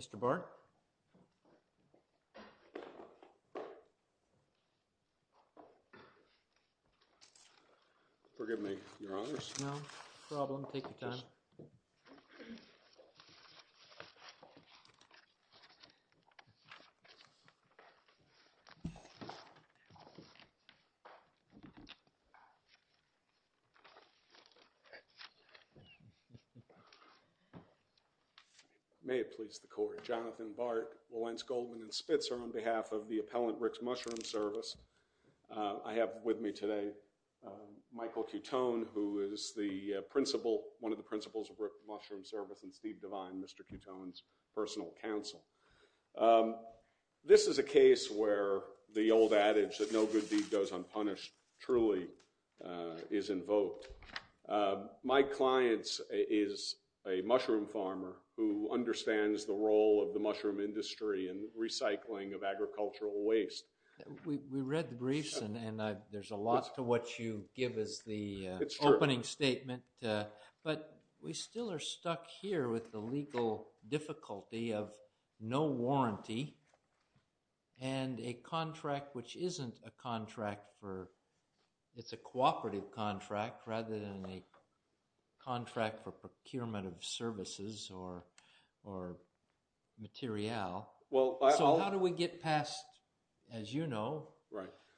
Mr. Bart? Forgive me, your honors. No problem, take your time. May it please the court, Jonathan Bart, Wilentz Goldman and Spitzer on behalf of the appellant Rick's Mushroom Service, I have with me today Michael Cutone who is the principal, one of the principals of Rick's Mushroom Service and Steve Devine, Mr. Cutone's personal counsel. This is a case where the old adage that no good deed goes unpunished truly is invoked. My client is a mushroom farmer who understands the role of the mushroom industry in recycling of agricultural waste. We read the briefs and there's a lot to what you give as the opening statement, but we still are stuck here with the legal difficulty of no warranty and a contract which isn't a contract for, it's a cooperative contract rather than a contract for procurement of as you know,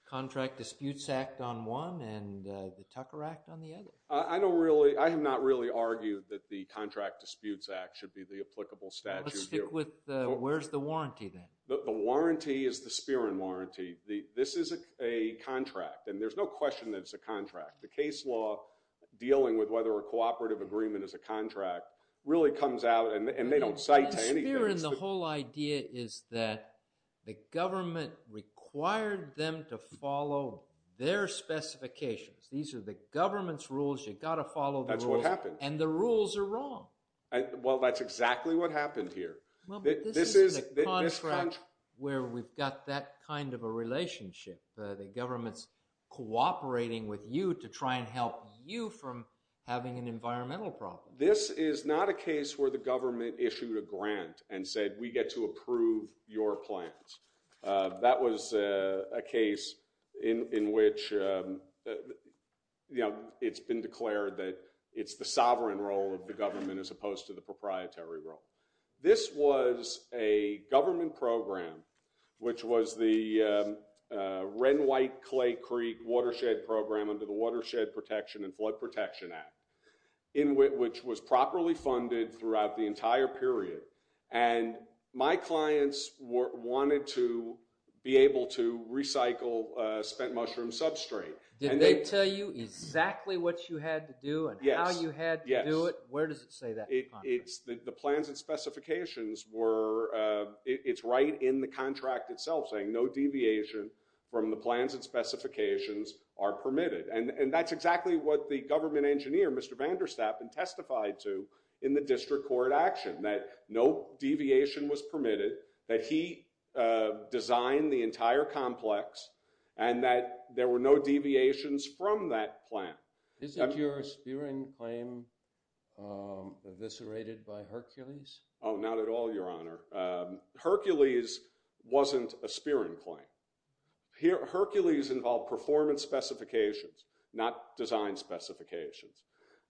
Contract Disputes Act on one and the Tucker Act on the other. I don't really, I have not really argued that the Contract Disputes Act should be the applicable statute here. Let's stick with the, where's the warranty then? The warranty is the Spear and Warranty. This is a contract and there's no question that it's a contract. The case law dealing with whether a cooperative agreement is a contract really comes out and they don't cite to anything. Here in the whole idea is that the government required them to follow their specifications. These are the government's rules, you've got to follow the rules. That's what happened. And the rules are wrong. Well, that's exactly what happened here. This is a contract where we've got that kind of a relationship, the government's cooperating with you to try and help you from having an environmental problem. This is not a case where the government issued a grant and said we get to approve your plans. That was a case in which, you know, it's been declared that it's the sovereign role of the government as opposed to the proprietary role. This was a government program which was the red and white clay creek watershed program under the Watershed Protection and Flood Protection Act, which was properly funded throughout the entire period. And my clients wanted to be able to recycle spent mushroom substrate. Did they tell you exactly what you had to do and how you had to do it? Where does it say that? The plans and specifications were, it's right in the contract itself saying no deviation from the plans and specifications are permitted. And that's exactly what the government engineer, Mr. Vanderstapp, had testified to in the district court action. That no deviation was permitted. That he designed the entire complex. And that there were no deviations from that plan. Isn't your spearing claim eviscerated by Hercules? Oh, not at all, your honor. Hercules wasn't a spearing claim. Hercules involved performance specifications, not design specifications.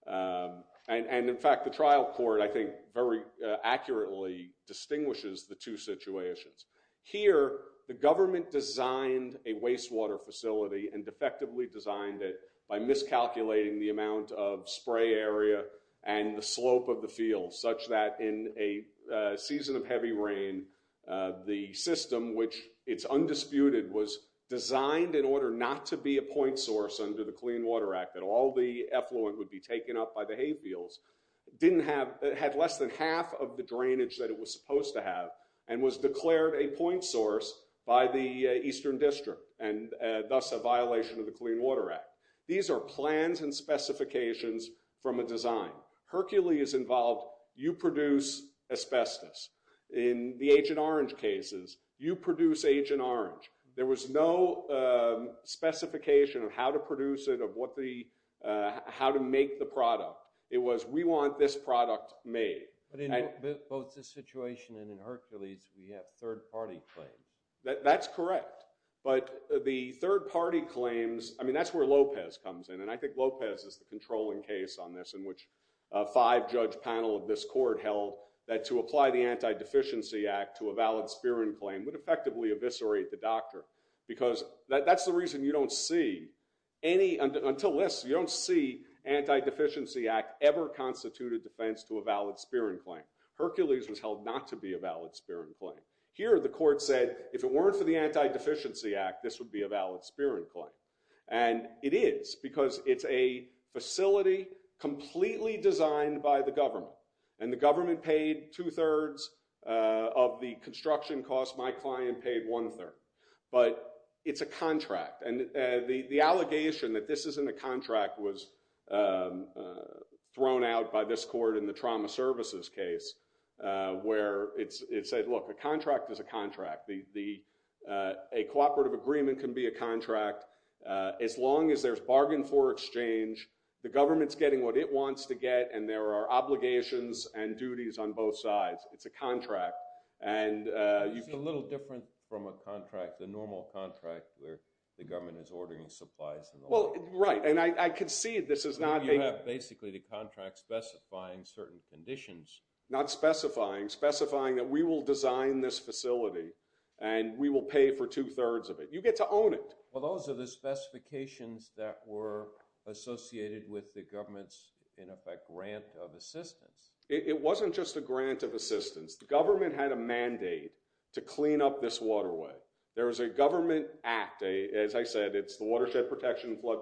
And in fact, the trial court, I think, very accurately distinguishes the two situations. Here, the government designed a wastewater facility and effectively designed it by miscalculating the amount of spray area and the slope of the field such that in a season of heavy rain the system, which it's undisputed, was designed in order not to be a point source under the Clean Water Act, that all the effluent would be taken up by the hay fields, didn't have, had less than half of the drainage that it was supposed to have and was declared a point source by the Eastern District and thus a violation of the Clean Water Act. These are plans and specifications from a design. Hercules involved, you produce asbestos. In the Agent Orange cases, you produce Agent Orange. There was no specification of how to produce it, of what the, how to make the product. It was, we want this product made. But in both this situation and in Hercules, we have third-party claims. That's correct. But the third-party claims, I mean, that's where Lopez comes in. And I think Lopez is the controlling case on this in which a five-judge panel of this court held that to apply the Anti-Deficiency Act to a valid Spirin claim would effectively eviscerate the doctor. Because that's the reason you don't see any, until this, you don't see Anti-Deficiency Act ever constitute a defense to a valid Spirin claim. Hercules was held not to be a valid Spirin claim. Here, the court said, if it weren't for the Anti-Deficiency Act, this would be a valid Spirin claim. And it is, because it's a facility completely designed by the government. And the government paid two-thirds of the construction cost. My client paid one-third. But it's a contract. And the allegation that this isn't a contract was thrown out by this court in the trauma services case, where it said, look, a contract is a contract. A cooperative agreement can be a contract. As long as there's bargain for exchange, the government's getting what it wants to get. And there are obligations and duties on both sides. It's a contract. And you see. It's a little different from a contract, the normal contract where the government is ordering supplies. Well, right. And I could see this is not. You have basically the contract specifying certain conditions. Not specifying. Specifying that we will design this facility. And we will pay for two-thirds of it. You get to own it. Well, those are the specifications that were associated with the government's, in effect, grant of assistance. It wasn't just a grant of assistance. The government had a mandate to clean up this waterway. There was a government act. As I said, it's the Watershed Protection Flood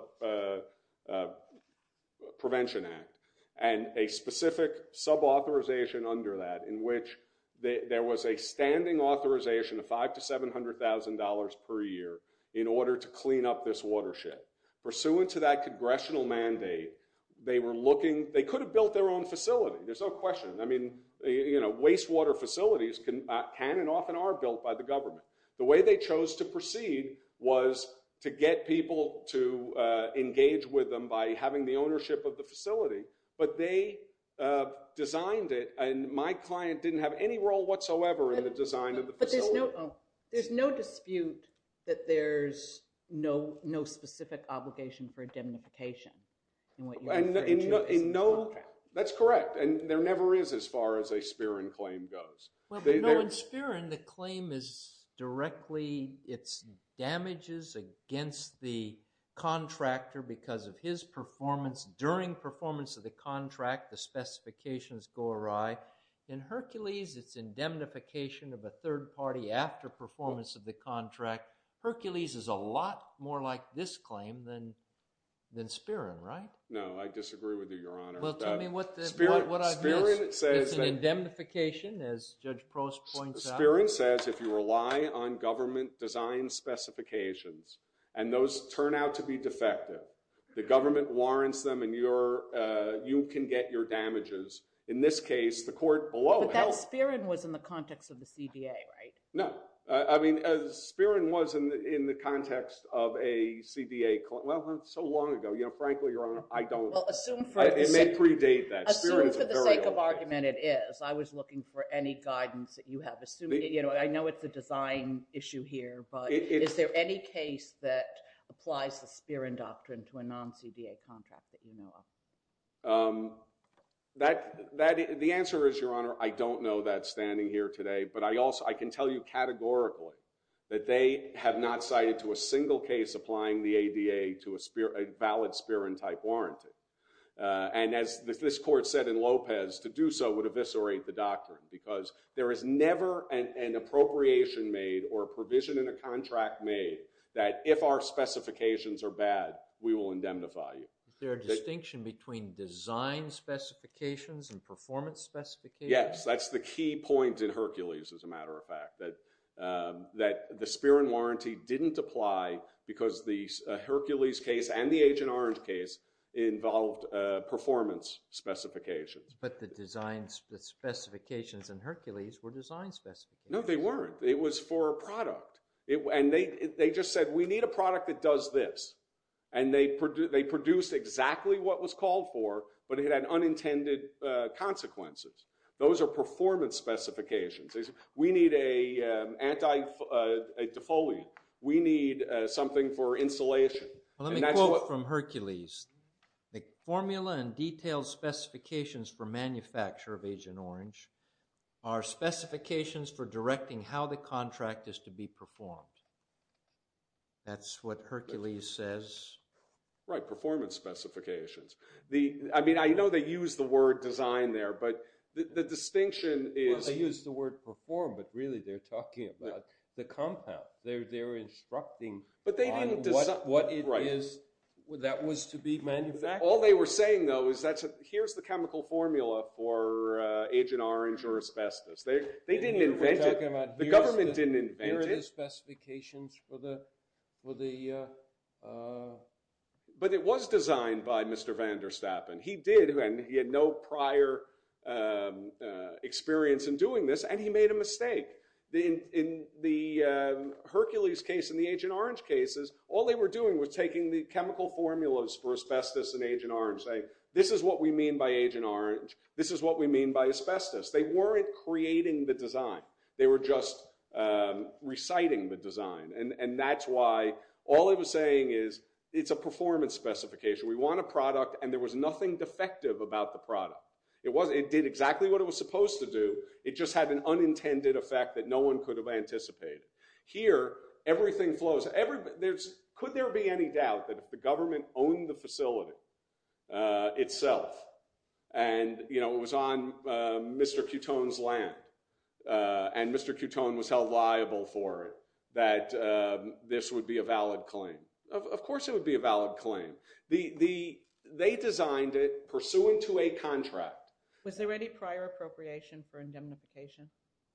Prevention Act. And a specific subauthorization under that in which there was a standing authorization of $500,000 to $700,000 per year in order to clean up this watershed. Pursuant to that congressional mandate, they were looking. They could have built their own facility. There's no question. I mean, you know, wastewater facilities can and often are built by the government. The way they chose to proceed was to get people to engage with them by having the ownership of the facility. But they designed it. And my client didn't have any role whatsoever in the design of the facility. There's no dispute that there's no specific obligation for indemnification in what you're referring to as a contract. That's correct. And there never is as far as a Spirin claim goes. Well, in Spirin, the claim is directly, it's damages against the contractor because of his performance during performance of the contract. The specifications go awry. In Hercules, it's indemnification of a third party after performance of the contract. Hercules is a lot more like this claim than Spirin, right? No, I disagree with you, Your Honor. Well, tell me what I missed. It's an indemnification, as Judge Prost points out. Spirin says if you rely on government design specifications, and those turn out to be defective, the government warrants them, and you can get your damages. In this case, the court below held it. But that Spirin was in the context of the CDA, right? No. I mean, Spirin was in the context of a CDA claim. Well, that's so long ago. Frankly, Your Honor, I don't. Well, assume for the sake of argument, it is. I was looking for any guidance that you have. I know it's a design issue here. Is there any case that applies the Spirin doctrine to a non-CDA contract that you know of? The answer is, Your Honor, I don't know that standing here today. But I can tell you categorically that they have not cited to a single case applying the ADA to a valid Spirin-type warranty. And as this court said in Lopez, to do so would eviscerate the doctrine. Because there is never an appropriation made or a provision in a contract made that if our specifications are bad, we will indemnify you. Is there a distinction between design specifications and performance specifications? Yes. That's the key point in Hercules, as a matter of fact, that the Spirin warranty didn't apply because the Hercules case and the Agent Orange case involved performance specifications. But the design specifications in Hercules were design specifications. No, they weren't. It was for a product. And they just said, we need a product that does this. And they produced exactly what was called for, but it had unintended consequences. Those are performance specifications. We need a defoliant. We need something for insulation. Let me quote from Hercules. The formula and detailed specifications for manufacture of Agent Orange are specifications for directing how the contract is to be performed. That's what Hercules says. Right, performance specifications. I mean, I know they use the word design there. But the distinction is. They use the word perform. But really, they're talking about the compound. They're instructing on what it is that was to be manufactured. All they were saying, though, is that here's the chemical formula for Agent Orange or asbestos. They didn't invent it. The government didn't invent it. Here are the specifications for the. But it was designed by Mr. van der Stappen. He did, and he had no prior experience in doing this. And he made a mistake. In the Hercules case and the Agent Orange cases, all they were doing was taking the chemical formulas for asbestos and Agent Orange. This is what we mean by asbestos. They weren't creating the design. They were just reciting the design. And that's why all it was saying is, it's a performance specification. We want a product. And there was nothing defective about the product. It did exactly what it was supposed to do. It just had an unintended effect that no one could have anticipated. Here, everything flows. Could there be any doubt that if the government owned the facility itself and it was on Mr. Coutone's land and Mr. Coutone was held liable for it, that this would be a valid claim? Of course it would be a valid claim. They designed it pursuant to a contract. Was there any prior appropriation for indemnification?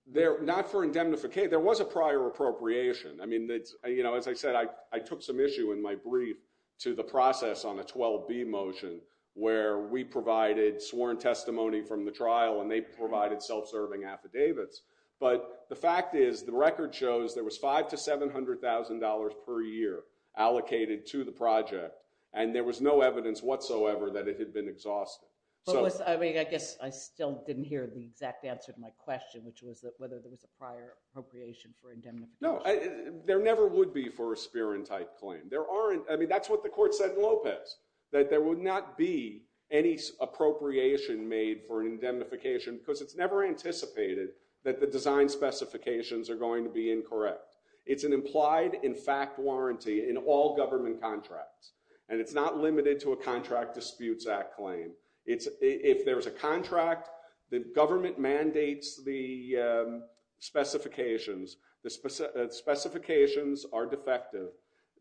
Not for indemnification. There was a prior appropriation. As I said, I took some issue in my brief to the process on the 12B motion where we provided sworn testimony from the trial and they provided self-serving affidavits. But the fact is, the record shows there was $500,000 to $700,000 per year allocated to the project. And there was no evidence whatsoever that it had been exhausted. I guess I still didn't hear the exact answer to my question, which was whether there was a prior appropriation for indemnification. There never would be for a Spear and Tite claim. That's what the court said in Lopez, that there would not be any appropriation made for an indemnification because it's never anticipated that the design specifications are going to be incorrect. It's an implied in fact warranty in all government contracts. And it's not limited to a Contract Disputes Act claim. If there is a contract, the government mandates the specifications, the specifications are defective,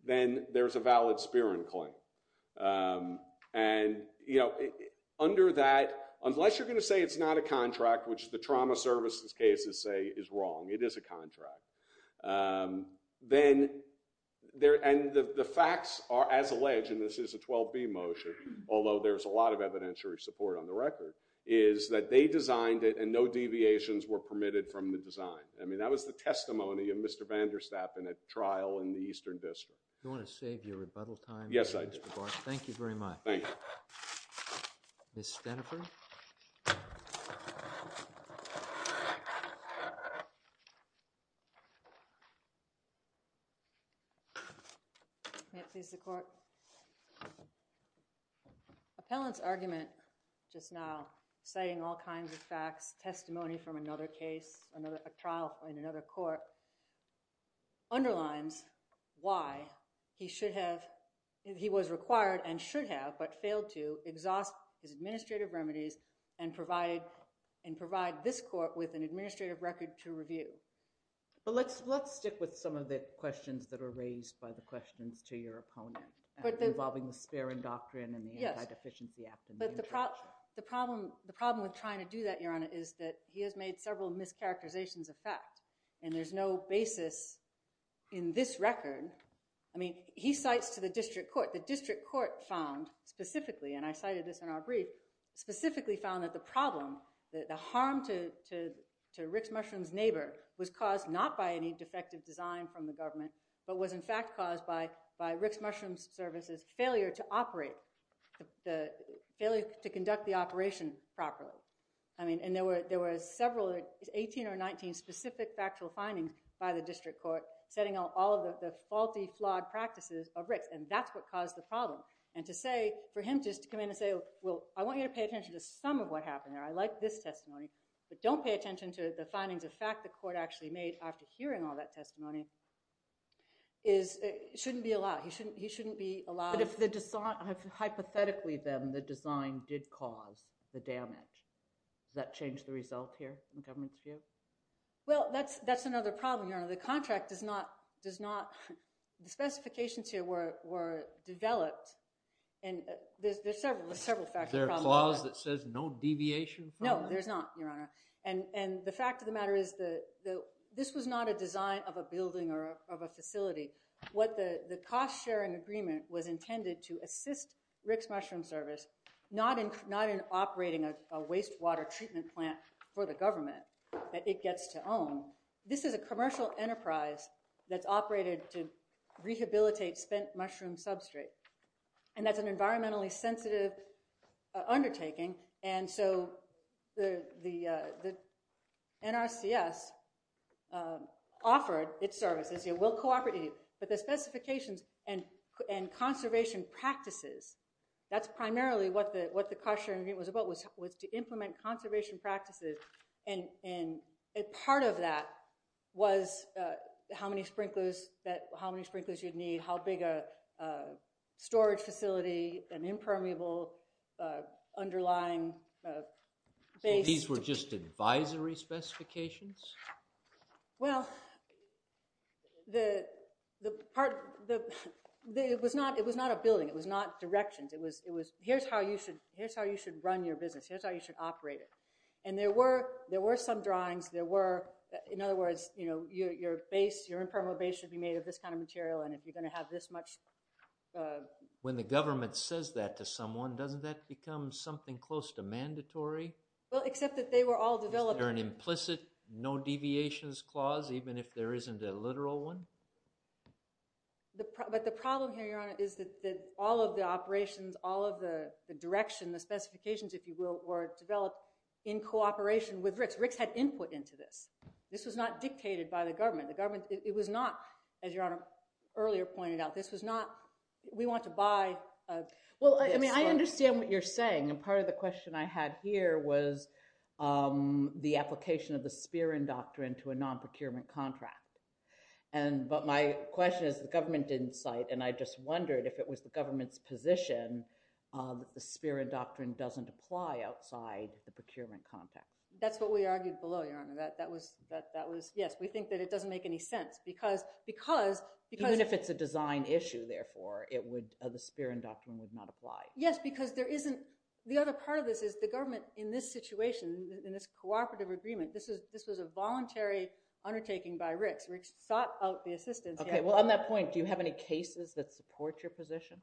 then there's a valid Spear and Claim. And under that, unless you're going to say it's not a contract, which the trauma services cases say is wrong, it is a contract, and the facts are as alleged, and this is a 12B motion, although there's a lot of evidentiary support on the record, is that they designed it and no deviations were permitted from the design. I mean, that was the testimony of Mr. Vanderstapp in a trial in the Eastern District. You want to save your rebuttal time? Yes, I do. Thank you very much. Thank you. Ms. Stenifer? May it please the court. Appellant's argument just now, citing all kinds of facts, testimony from another case, a trial in another court, underlines why he should have, he was required and should have, but failed to, exhaust his administrative remedies and provide this court with an administrative record to review. But let's stick with some of the questions that are raised by the questions to your opponent involving the Sparron Doctrine and the Anti-Deficiency Act. But the problem with trying to do that, Your Honor, is that he has made several mischaracterizations of fact, and there's no basis in this record. I mean, he cites to the district court. The district court found specifically, and I cited this in our brief, specifically found that the problem, that the harm to Rick's Mushroom's from the government, but was, in fact, caused by Rick's Mushroom's services, failure to operate, failure to conduct the operation properly. I mean, and there were several 18 or 19 specific factual findings by the district court setting out all of the faulty, flawed practices of Rick's. And that's what caused the problem. And to say, for him just to come in and say, well, I want you to pay attention to some of what happened there. I like this testimony, but don't pay attention to the findings of fact the court actually made after hearing all that testimony, is it shouldn't be allowed. He shouldn't be allowed. But if the design, hypothetically, then, the design did cause the damage, does that change the result here in the government's view? Well, that's another problem, Your Honor. The contract does not, does not, the specifications here were developed, and there's several factual problems. Is there a clause that says no deviation from that? No, there's not, Your Honor. And the fact of the matter is that this was not a design of a building or of a facility. What the cost sharing agreement was intended to assist Rick's Mushroom Service, not in operating a wastewater treatment plant for the government that it gets to own. This is a commercial enterprise that's operated to rehabilitate spent mushroom substrate. And that's an environmentally sensitive undertaking. And so the NRCS offered its services. It will cooperate with you. But the specifications and conservation practices, that's primarily what the cost sharing agreement was about, was to implement conservation practices. And part of that was how many sprinklers you'd need, how big a storage facility, an impermeable underlying base. These were just advisory specifications? Well, it was not a building. It was not directions. Here's how you should run your business. Here's how you should operate it. And there were some drawings. There were, in other words, your base, your impermeable base should be made of this kind of material. And if you're going to have this much. When the government says that to someone, doesn't that become something close to mandatory? Well, except that they were all developed. Is there an implicit no deviations clause, even if there isn't a literal one? But the problem here, Your Honor, is that all of the operations, all of the direction, the specifications, if you will, were developed in cooperation with Rick's. Rick's had input into this. This was not dictated by the government. It was not, as Your Honor earlier pointed out, this was not, we want to buy. Well, I mean, I understand what you're saying. And part of the question I had here was the application of the Spearman Doctrine to a non-procurement contract. But my question is, the government didn't cite. And I just wondered if it was the government's position that the Spearman Doctrine doesn't apply outside the procurement contract. That's what we argued below, Your Honor. That was, yes, we think that it doesn't make any sense. Because, because, because. Even if it's a design issue, therefore, it would, the Spearman Doctrine would not apply. Yes, because there isn't, the other part of this is the government, in this situation, in this cooperative agreement, this was a voluntary undertaking by Rick's. Rick's sought out the assistance. Okay, well, on that point, do you have any cases that support your position?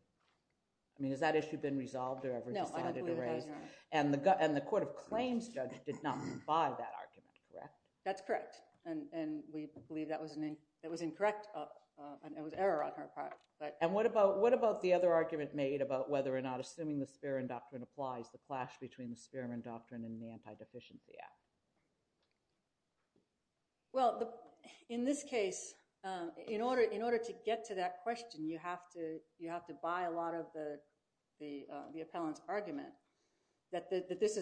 I mean, has that issue been resolved or ever decided to raise? No, I don't believe it has, Your Honor. And the Court of Claims judge did not buy that argument, correct? That's correct. And we believe that was an, that was incorrect. It was error on her part. And what about the other argument made about whether or not assuming the Spearman Doctrine applies, the clash between the Spearman Doctrine and the Anti-Deficiency Act? Well, in this case, in order to get to that question, you have to buy a lot of the appellant's argument that this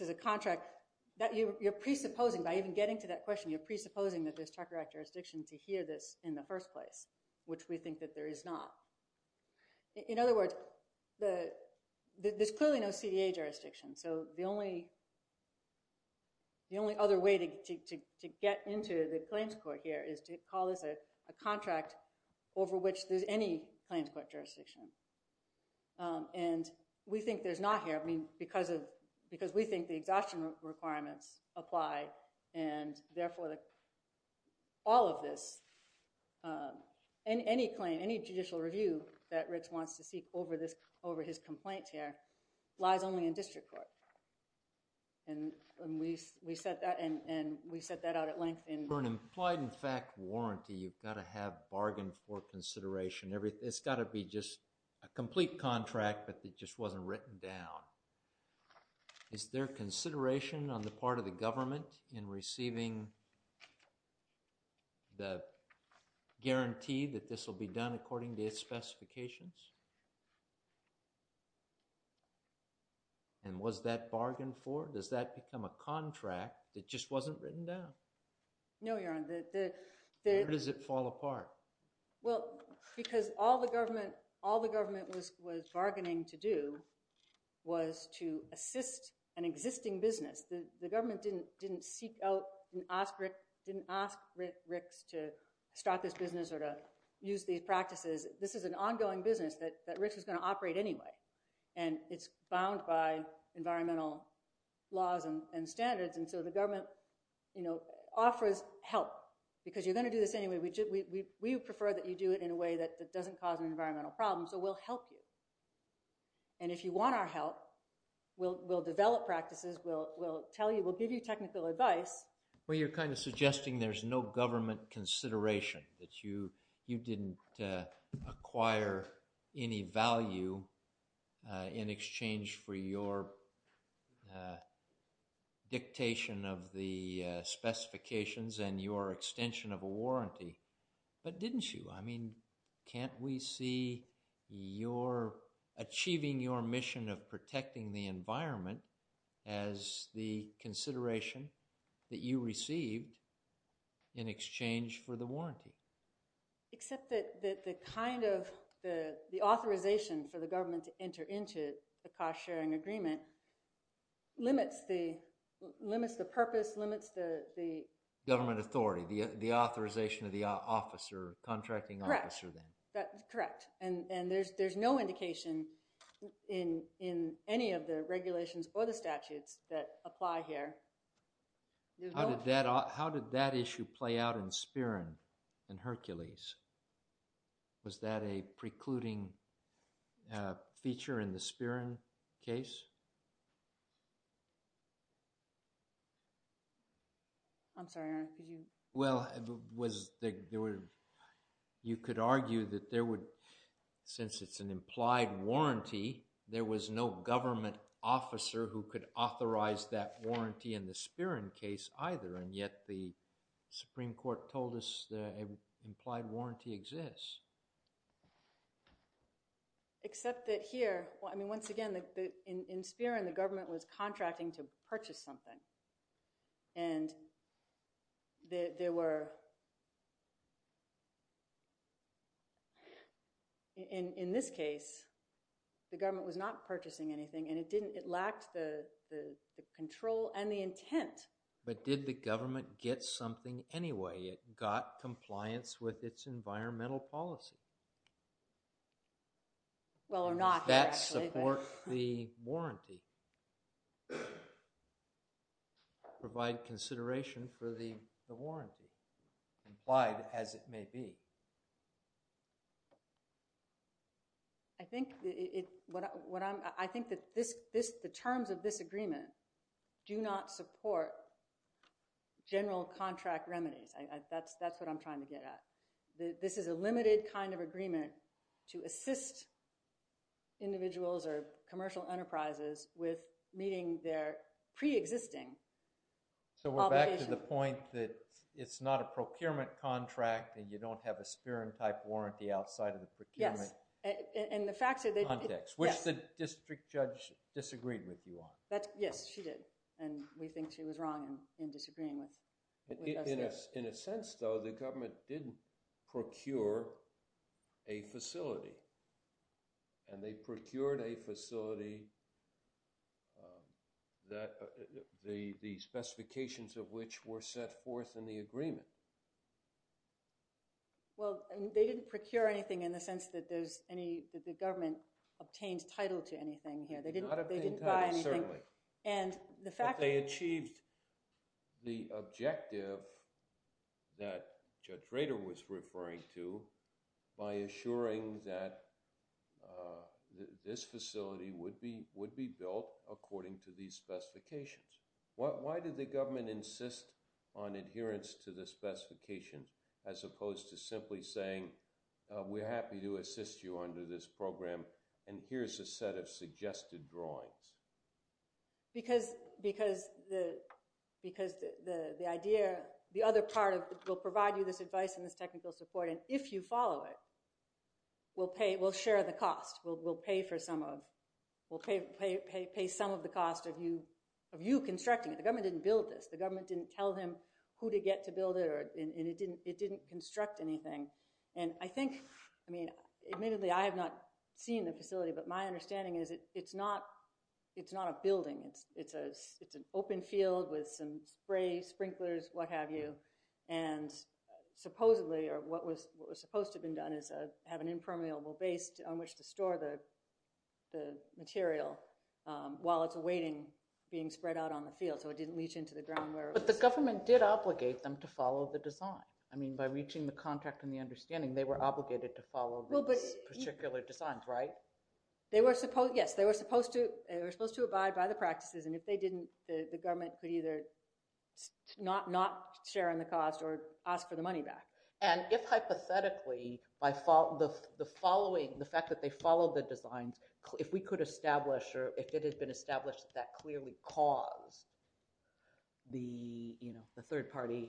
is a contract that you're presupposing, by even getting to that question, you're presupposing that there's Charter Act jurisdiction to hear this in the first place, which we think that there is not. In other words, there's clearly no CDA jurisdiction. So the only other way to get into the claims court here is to call this a contract over which there's any claims court jurisdiction. And we think there's not here, I mean, because we think the exhaustion requirements apply, and therefore, all of this, any claim, any judicial review that Rich wants to seek over his complaint here lies only in district court. And we set that out at length in- For an implied in fact warranty, you've got to have bargain for consideration. It's gotta be just a complete contract, but it just wasn't written down. Is there consideration on the part of the government in receiving the guarantee that this will be done according to its specifications? And was that bargain for, does that become a contract that just wasn't written down? No, Your Honor, the- Where does it fall apart? Well, because all the government was bargaining to do was to assist an existing business. The government didn't ask Ricks to start this business or to use these practices. This is an ongoing business that Ricks is gonna operate anyway. And it's bound by environmental laws and standards. And so the government offers help because you're gonna do this anyway. We would prefer that you do it in a way that doesn't cause an environmental problem. So we'll help you. And if you want our help, we'll develop practices, we'll tell you, we'll give you technical advice. Well, you're kind of suggesting there's no government consideration that you didn't acquire any value in exchange for your dictation of the specifications and your extension of a warranty, but didn't you? I mean, can't we see your achieving your mission of protecting the environment as the consideration that you received in exchange for the warranty? Except that the kind of the authorization for the government to enter into the cost-sharing agreement limits the purpose, limits the- Government authority, the authorization of the officer, contracting officer then. Correct. And there's no indication in any of the regulations or the statutes that apply here. How did that issue play out in Spirin and Hercules? Was that a precluding feature in the Spirin case? I'm sorry, Aaron, could you? Well, you could argue that there would, since it's an implied warranty, there was no government officer who could authorize that warranty in the Spirin case either, and yet the Supreme Court told us that an implied warranty exists. Except that here, I mean, once again, in Spirin, the government was contracting to purchase something, and there were, in this case, the government was not purchasing anything, and it lacked the control and the intent. But did the government get something anyway? It got compliance with its environmental policy. Well, or not. Does that support the warranty? Provide consideration for the warranty, implied as it may be. I think that the terms of this agreement do not support general contract remedies. That's what I'm trying to get at. This is a limited kind of agreement to assist individuals or commercial enterprises with meeting their preexisting obligation. So we're back to the point that it's not a procurement contract, and you don't have a Spirin-type warranty outside of the procurement context, which the district judge disagreed with you on. Yes, she did, and we think she was wrong in disagreeing with us there. In a sense, though, the government didn't procure a facility, and they procured a facility, the specifications of which were set forth in the agreement. Well, they didn't procure anything in the sense that the government obtained title to anything here. They didn't buy anything. Not obtain title, certainly. And the fact that- But they achieved the objective that Judge Rader was referring to by assuring that this facility would be built according to these specifications. Why did the government insist on adherence to the specifications as opposed to simply saying, we're happy to assist you under this program, and here's a set of suggested drawings? Because the idea, the other part of, we'll provide you this advice and this technical support, and if you follow it, we'll share the cost. We'll pay for some of, we'll pay some of the cost of you constructing it. The government didn't build this. The government didn't tell him who to get to build it, and it didn't construct anything. And I think, I mean, admittedly, I have not seen the facility, but my understanding is it's not a building. It's an open field with some spray sprinklers, what have you, and supposedly, or what was supposed to have been done is have an impermeable base on which to store the material while it's awaiting being spread out on the field so it didn't leach into the ground where it was. But the government did obligate them to follow the design. I mean, by reaching the contract and the understanding, they were obligated to follow those particular designs, right? They were supposed, yes, they were supposed to, they were supposed to abide by the practices, and if they didn't, the government could either not share in the cost or ask for the money back. And if, hypothetically, the following, the fact that they followed the designs, if we could establish, or if it had been established that clearly caused the third-party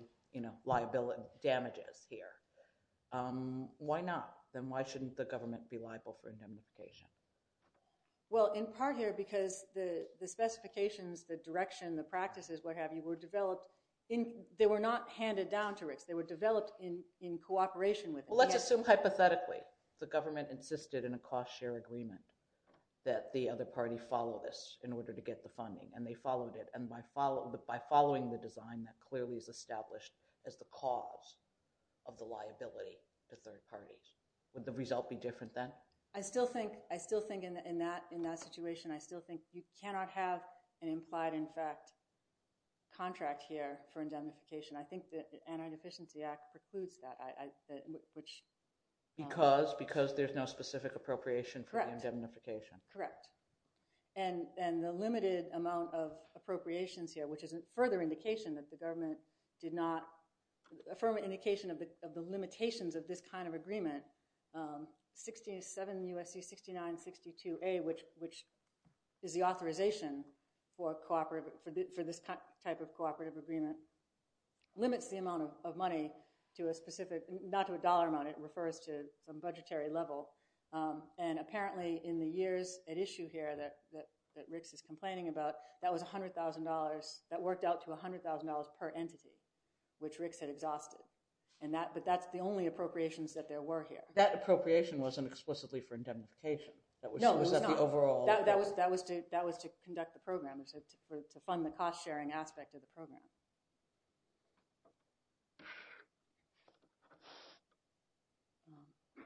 liability damages here, why not? Then why shouldn't the government be liable for indemnification? Well, in part here because the specifications, the direction, the practices, what have you, were developed, they were not handed down to Ricks. They were developed in cooperation with him. Well, let's assume, hypothetically, the government insisted in a cost-share agreement that the other party follow this in order to get the funding, and they followed it, and by following the design that clearly is established as the cause of the liability to third parties. Would the result be different then? I still think, I still think in that situation, I still think you cannot have an implied, in fact, contract here for indemnification. I think the Anti-Deficiency Act precludes that, which. Because? Because there's no specific appropriation for the indemnification. And the limited amount of appropriations here, which is a further indication that the government did not, a firmer indication of the limitations of this kind of agreement, 67 U.S.C. 6962A, which is the authorization for cooperative, for this type of cooperative agreement, limits the amount of money to a specific, not to a dollar amount, it refers to some budgetary level. And apparently in the years at issue here that Ricks is complaining about, that was $100,000, that worked out to $100,000 per entity, which Ricks had exhausted. And that, but that's the only appropriations that there were here. That appropriation wasn't explicitly for indemnification. That was the overall. That was to conduct the program, to fund the cost-sharing aspect of the program.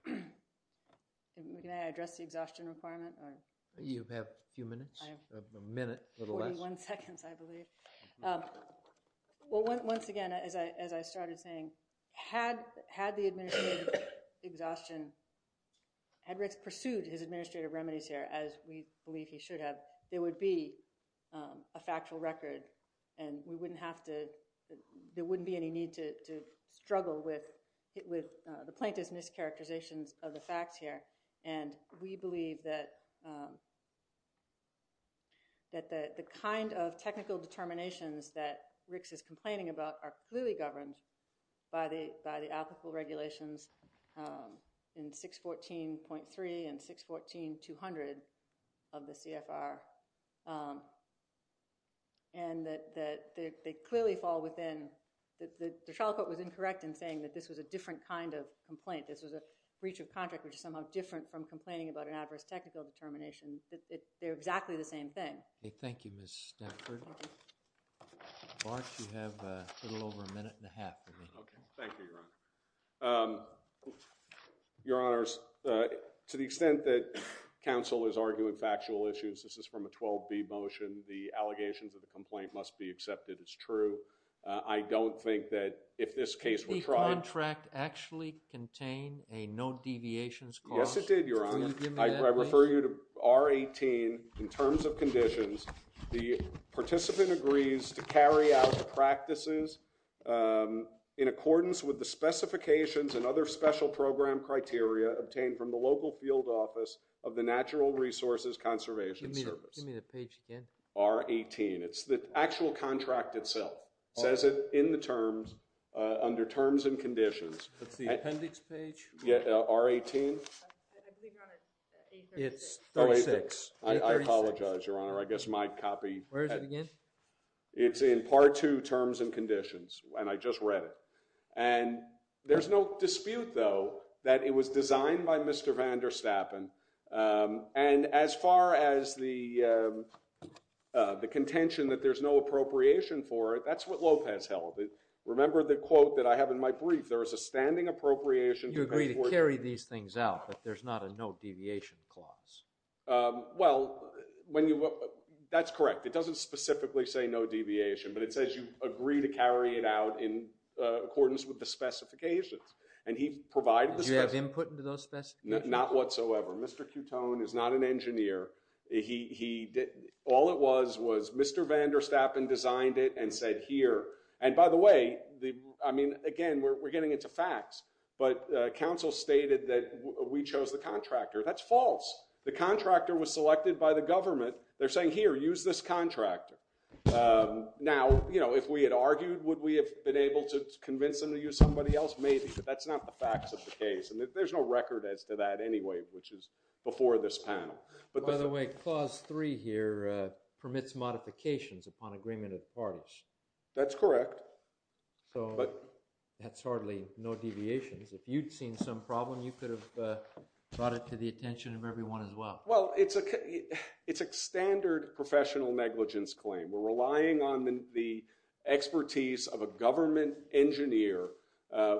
Can I address the exhaustion requirement? You have a few minutes, a minute, a little less. One second, I believe. Well, once again, as I started saying, had the administrative exhaustion, had Ricks pursued his administrative remedies here, as we believe he should have, there would be a factual record. And we wouldn't have to, there wouldn't be any need to struggle with the plaintiff's mischaracterizations of the facts here. And we believe that, that the kind of technical determinations that Ricks is complaining about are clearly governed by the applicable regulations in 614.3 and 614.200 of the CFR. And that they clearly fall within, the trial court was incorrect in saying that this was a different kind of complaint. This was a breach of contract, which is somehow different from complaining about an adverse technical determination. They're exactly the same thing. Thank you, Ms. Stetford. Bart, you have a little over a minute and a half remaining. Okay, thank you, Your Honor. Your Honors, to the extent that counsel is arguing factual issues, this is from a 12B motion. The allegations of the complaint must be accepted as true. I don't think that if this case were tried- Did the contract actually contain a no deviations clause? Yes, it did, Your Honor. I refer you to R18, in terms of conditions, the participant agrees to carry out the practices in accordance with the specifications and other special program criteria obtained from the local field office of the Natural Resources Conservation Service. Give me the page again. R18, it's the actual contract itself. Says it in the terms, under terms and conditions. That's the appendix page? Yeah, R18. I believe, Your Honor, it's 836. It's 36. I apologize, Your Honor. I guess my copy- Where is it again? It's in part two, terms and conditions, and I just read it. And there's no dispute, though, that it was designed by Mr. Van der Stappen. And as far as the contention that there's no appropriation for it, that's what Lopez held. Remember the quote that I have in my brief. There is a standing appropriation- You agree to carry these things out, but there's not a no-deviation clause. Well, that's correct. It doesn't specifically say no deviation, but it says you agree to carry it out in accordance with the specifications. And he provided the- Did you have input into those specifications? Not whatsoever. Mr. Coutone is not an engineer. All it was was Mr. Van der Stappen designed it and said here- And by the way, I mean, again, we're getting into facts, but counsel stated that we chose the contractor. That's false. The contractor was selected by the government. They're saying, here, use this contractor. Now, if we had argued, would we have been able to convince them to use somebody else? Maybe. But that's not the facts of the case. And there's no record as to that anyway, which is before this panel. By the way, clause three here permits modifications upon agreement of parties. That's correct. So that's hardly no deviations. If you'd seen some problem, you could have brought it to the attention of everyone as well. Well, it's a standard professional negligence claim. We're relying on the expertise of a government engineer.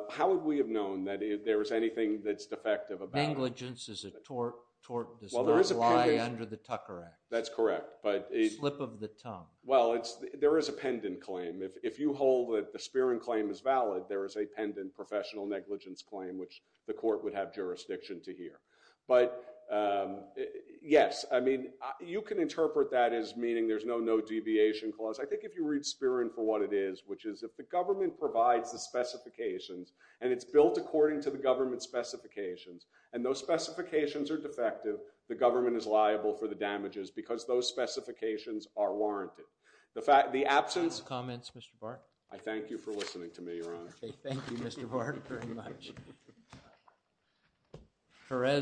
How would we have known that if there was anything that's defective about it? Negligence is a tort, tort, does not lie under the Tucker Act. That's correct, but- Slip of the tongue. Well, there is a pendant claim. If you hold that the Spearing claim is valid, there is a pendant professional negligence claim, which the court would have jurisdiction to hear. But yes, I mean, you can interpret that as meaning there's no no deviation clause. I think if you read Spearing for what it is, which is if the government provides the specifications and it's built according to the government's specifications and those specifications are defective, the government is liable for the damages because those specifications are warranted. The absence- Comments, Mr. Bart? I thank you for listening to me, Your Honor. Okay, thank you, Mr. Bart, very much.